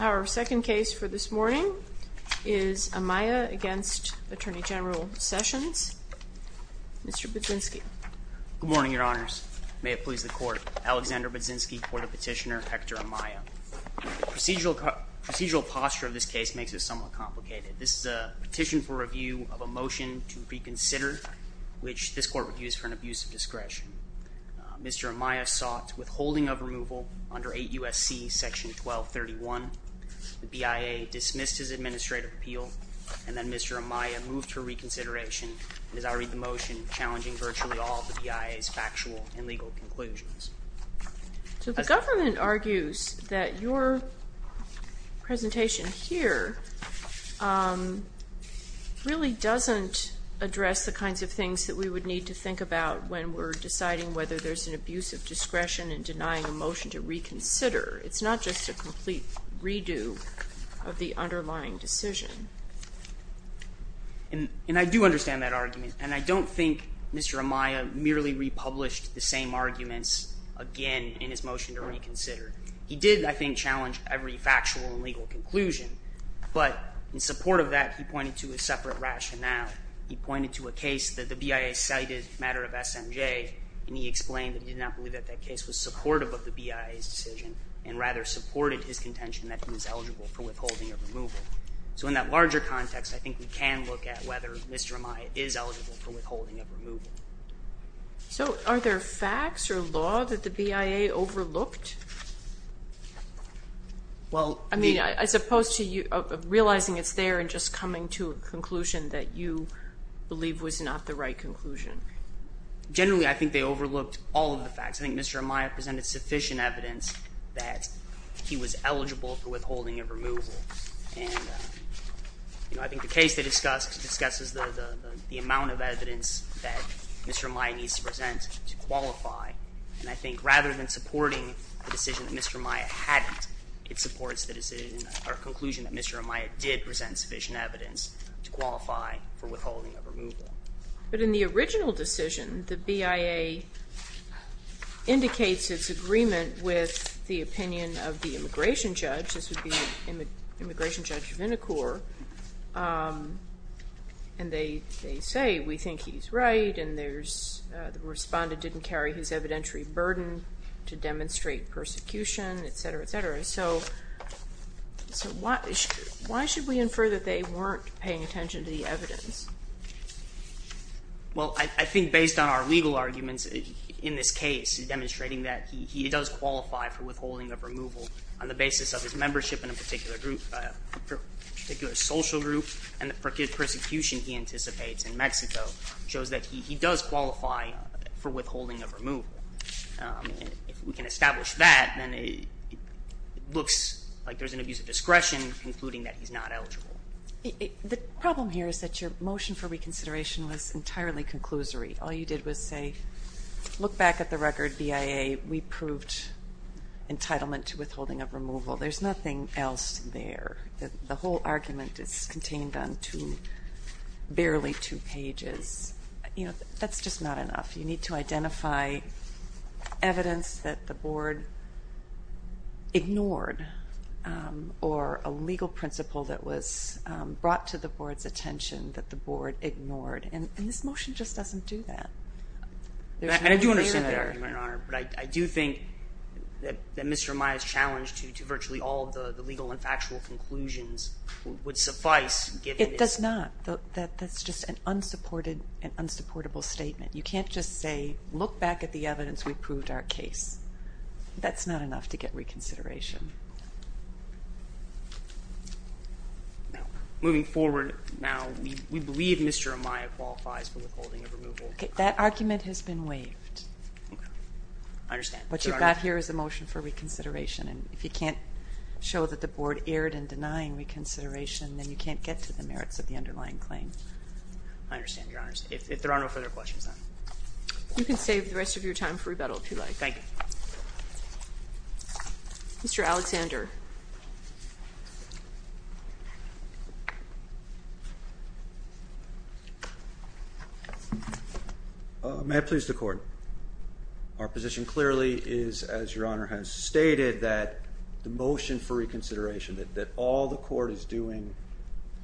Our second case for this morning is Amaya v. Attorney General Sessions. Mr. Budzinski. Good morning, Your Honors. May it please the Court, Alexander Budzinski for the petitioner Hector Amaya. The procedural posture of this case makes it somewhat complicated. This is a petition for review of a motion to reconsider, which this Court reviews for an abuse of discretion. Mr. Amaya sought withholding of removal under 8 U.S.C. § 1231. The BIA dismissed his administrative appeal, and then Mr. Amaya moved for reconsideration. And as I read the motion, challenging virtually all of the BIA's factual and legal conclusions. So the government argues that your presentation here really doesn't address the kinds of things that we would need to think about when we're deciding whether there's an abuse of discretion and denying a motion to reconsider. It's not just a complete redo of the underlying decision. And I do understand that argument, and I don't think Mr. Amaya merely republished the same arguments again in his motion to reconsider. He did, I think, challenge every factual and legal conclusion, but in support of that, he pointed to a separate rationale. He pointed to a case that the BIA cited as a matter of SMJ, and he explained that he did not believe that that case was supportive of the BIA's decision, and rather supported his contention that he was eligible for withholding of removal. So in that larger context, I think we can look at whether Mr. Amaya is eligible for withholding of removal. So are there facts or law that the BIA overlooked? I mean, as opposed to realizing it's there and just coming to a conclusion that you believe was not the right conclusion. Generally, I think they overlooked all of the facts. I think Mr. Amaya presented sufficient evidence that he was eligible for withholding of removal. And I think the case they discussed discusses the amount of evidence that Mr. Amaya needs to present to qualify. And I think rather than supporting the decision that Mr. Amaya hadn't, it supports the conclusion that Mr. Amaya did present sufficient evidence to qualify for withholding of removal. But in the original decision, the BIA indicates its agreement with the opinion of the immigration judge. This would be Immigration Judge Vinokur. And they say, we think he's right, and the respondent didn't carry his evidentiary burden to demonstrate persecution, etc., etc. So why should we infer that they weren't paying attention to the evidence? Well, I think based on our legal arguments in this case, demonstrating that he does qualify for withholding of removal on the basis of his membership in a particular group, a particular social group, and the persecution he anticipates in Mexico shows that he does qualify for withholding of removal. If we can establish that, then it looks like there's an abuse of discretion, including that he's not eligible. The problem here is that your motion for reconsideration was entirely conclusory. All you did was say, look back at the record, BIA, we proved entitlement to withholding of removal. There's nothing else there. The whole argument is contained on two, barely two pages. You know, that's just not enough. You need to identify evidence that the board ignored, or a legal principle that was brought to the board's attention that the board ignored. And this motion just doesn't do that. And I do understand that, Your Honor. But I do think that Mr. Maia's challenge to virtually all of the legal and factual conclusions would suffice. It does not. That's just an unsupported and unsupportable statement. You can't just say, look back at the evidence, we proved our case. That's not enough to get reconsideration. Moving forward now, we believe Mr. Maia qualifies for withholding of removal. That argument has been waived. I understand. What you've got here is a motion for reconsideration. And if you can't show that the board erred in denying reconsideration, then you can't get to the merits of the underlying claim. I understand, Your Honor. If there are no further questions, then. You can save the rest of your time for rebuttal, if you like. Thank you. Mr. Alexander. May I please the court? Our position clearly is, as Your Honor has stated, that the motion for reconsideration, that all the court is doing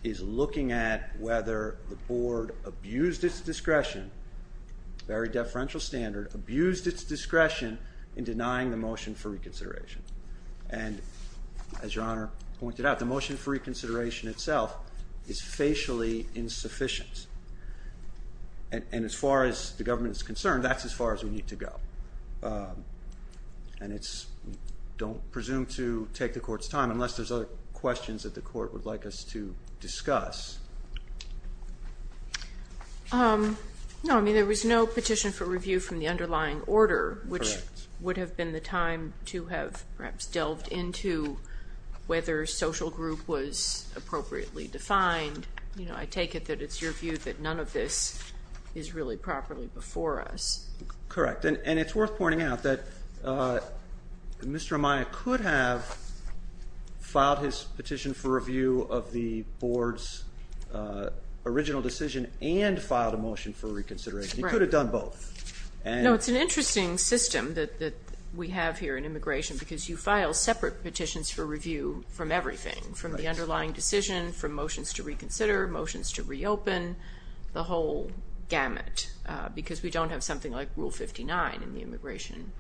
is looking at whether the board abused its discretion, very deferential standard, abused its discretion in denying the motion for reconsideration. And as Your Honor pointed out, the motion for reconsideration itself is facially insufficient. And as far as the government is concerned, that's as far as we need to go. And it's, we don't presume to take the court's time unless there's other questions that the court would like us to discuss. No, I mean, there was no petition for review from the underlying order, which would have been the time to have perhaps delved into whether social group was appropriately defined. You know, I take it that it's your view that none of this is really properly before us. Correct. And it's worth pointing out that Mr. Amaya could have filed his petition for review of the board's original decision and filed a motion for reconsideration. He could have done both. No, it's an interesting system that we have here in immigration because you file separate petitions for review from everything, from the underlying decision, from motions to reconsider, motions to reopen, the whole gamut. Because we don't have something like Rule 59 in the immigration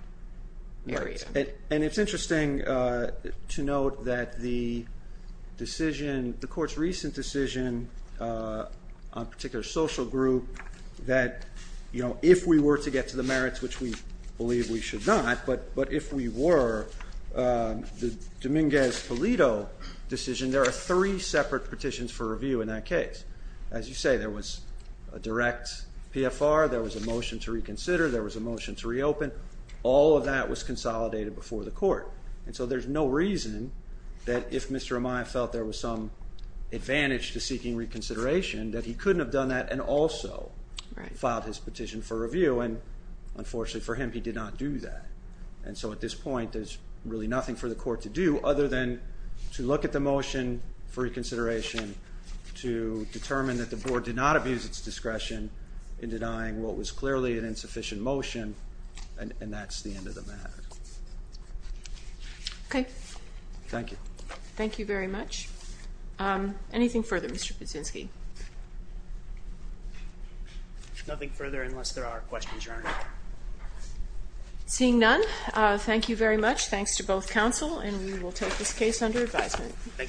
area. And it's interesting to note that the decision, the court's recent decision on a particular social group that, you know, if we were to get to the merits, which we believe we should not, but if we were, the Dominguez-Polito decision, there are three separate petitions for review in that case. As you say, there was a direct PFR, there was a motion to reconsider, there was a motion to reopen. All of that was consolidated before the court. And so there's no reason that if Mr. Amaya felt there was some advantage to seeking reconsideration that he couldn't have done that and also filed his petition for review. And unfortunately for him, he did not do that. And so at this point, there's really nothing for the court to do other than to look at the motion for reconsideration to determine that the board did not abuse its discretion in denying what was clearly an insufficient motion. And that's the end of the matter. Okay. Thank you. Thank you very much. Anything further, Mr. Pudzinski? Nothing further unless there are questions, Your Honor. Seeing none, thank you very much. Thanks to both counsel, and we will take this case under advisement. Thank you.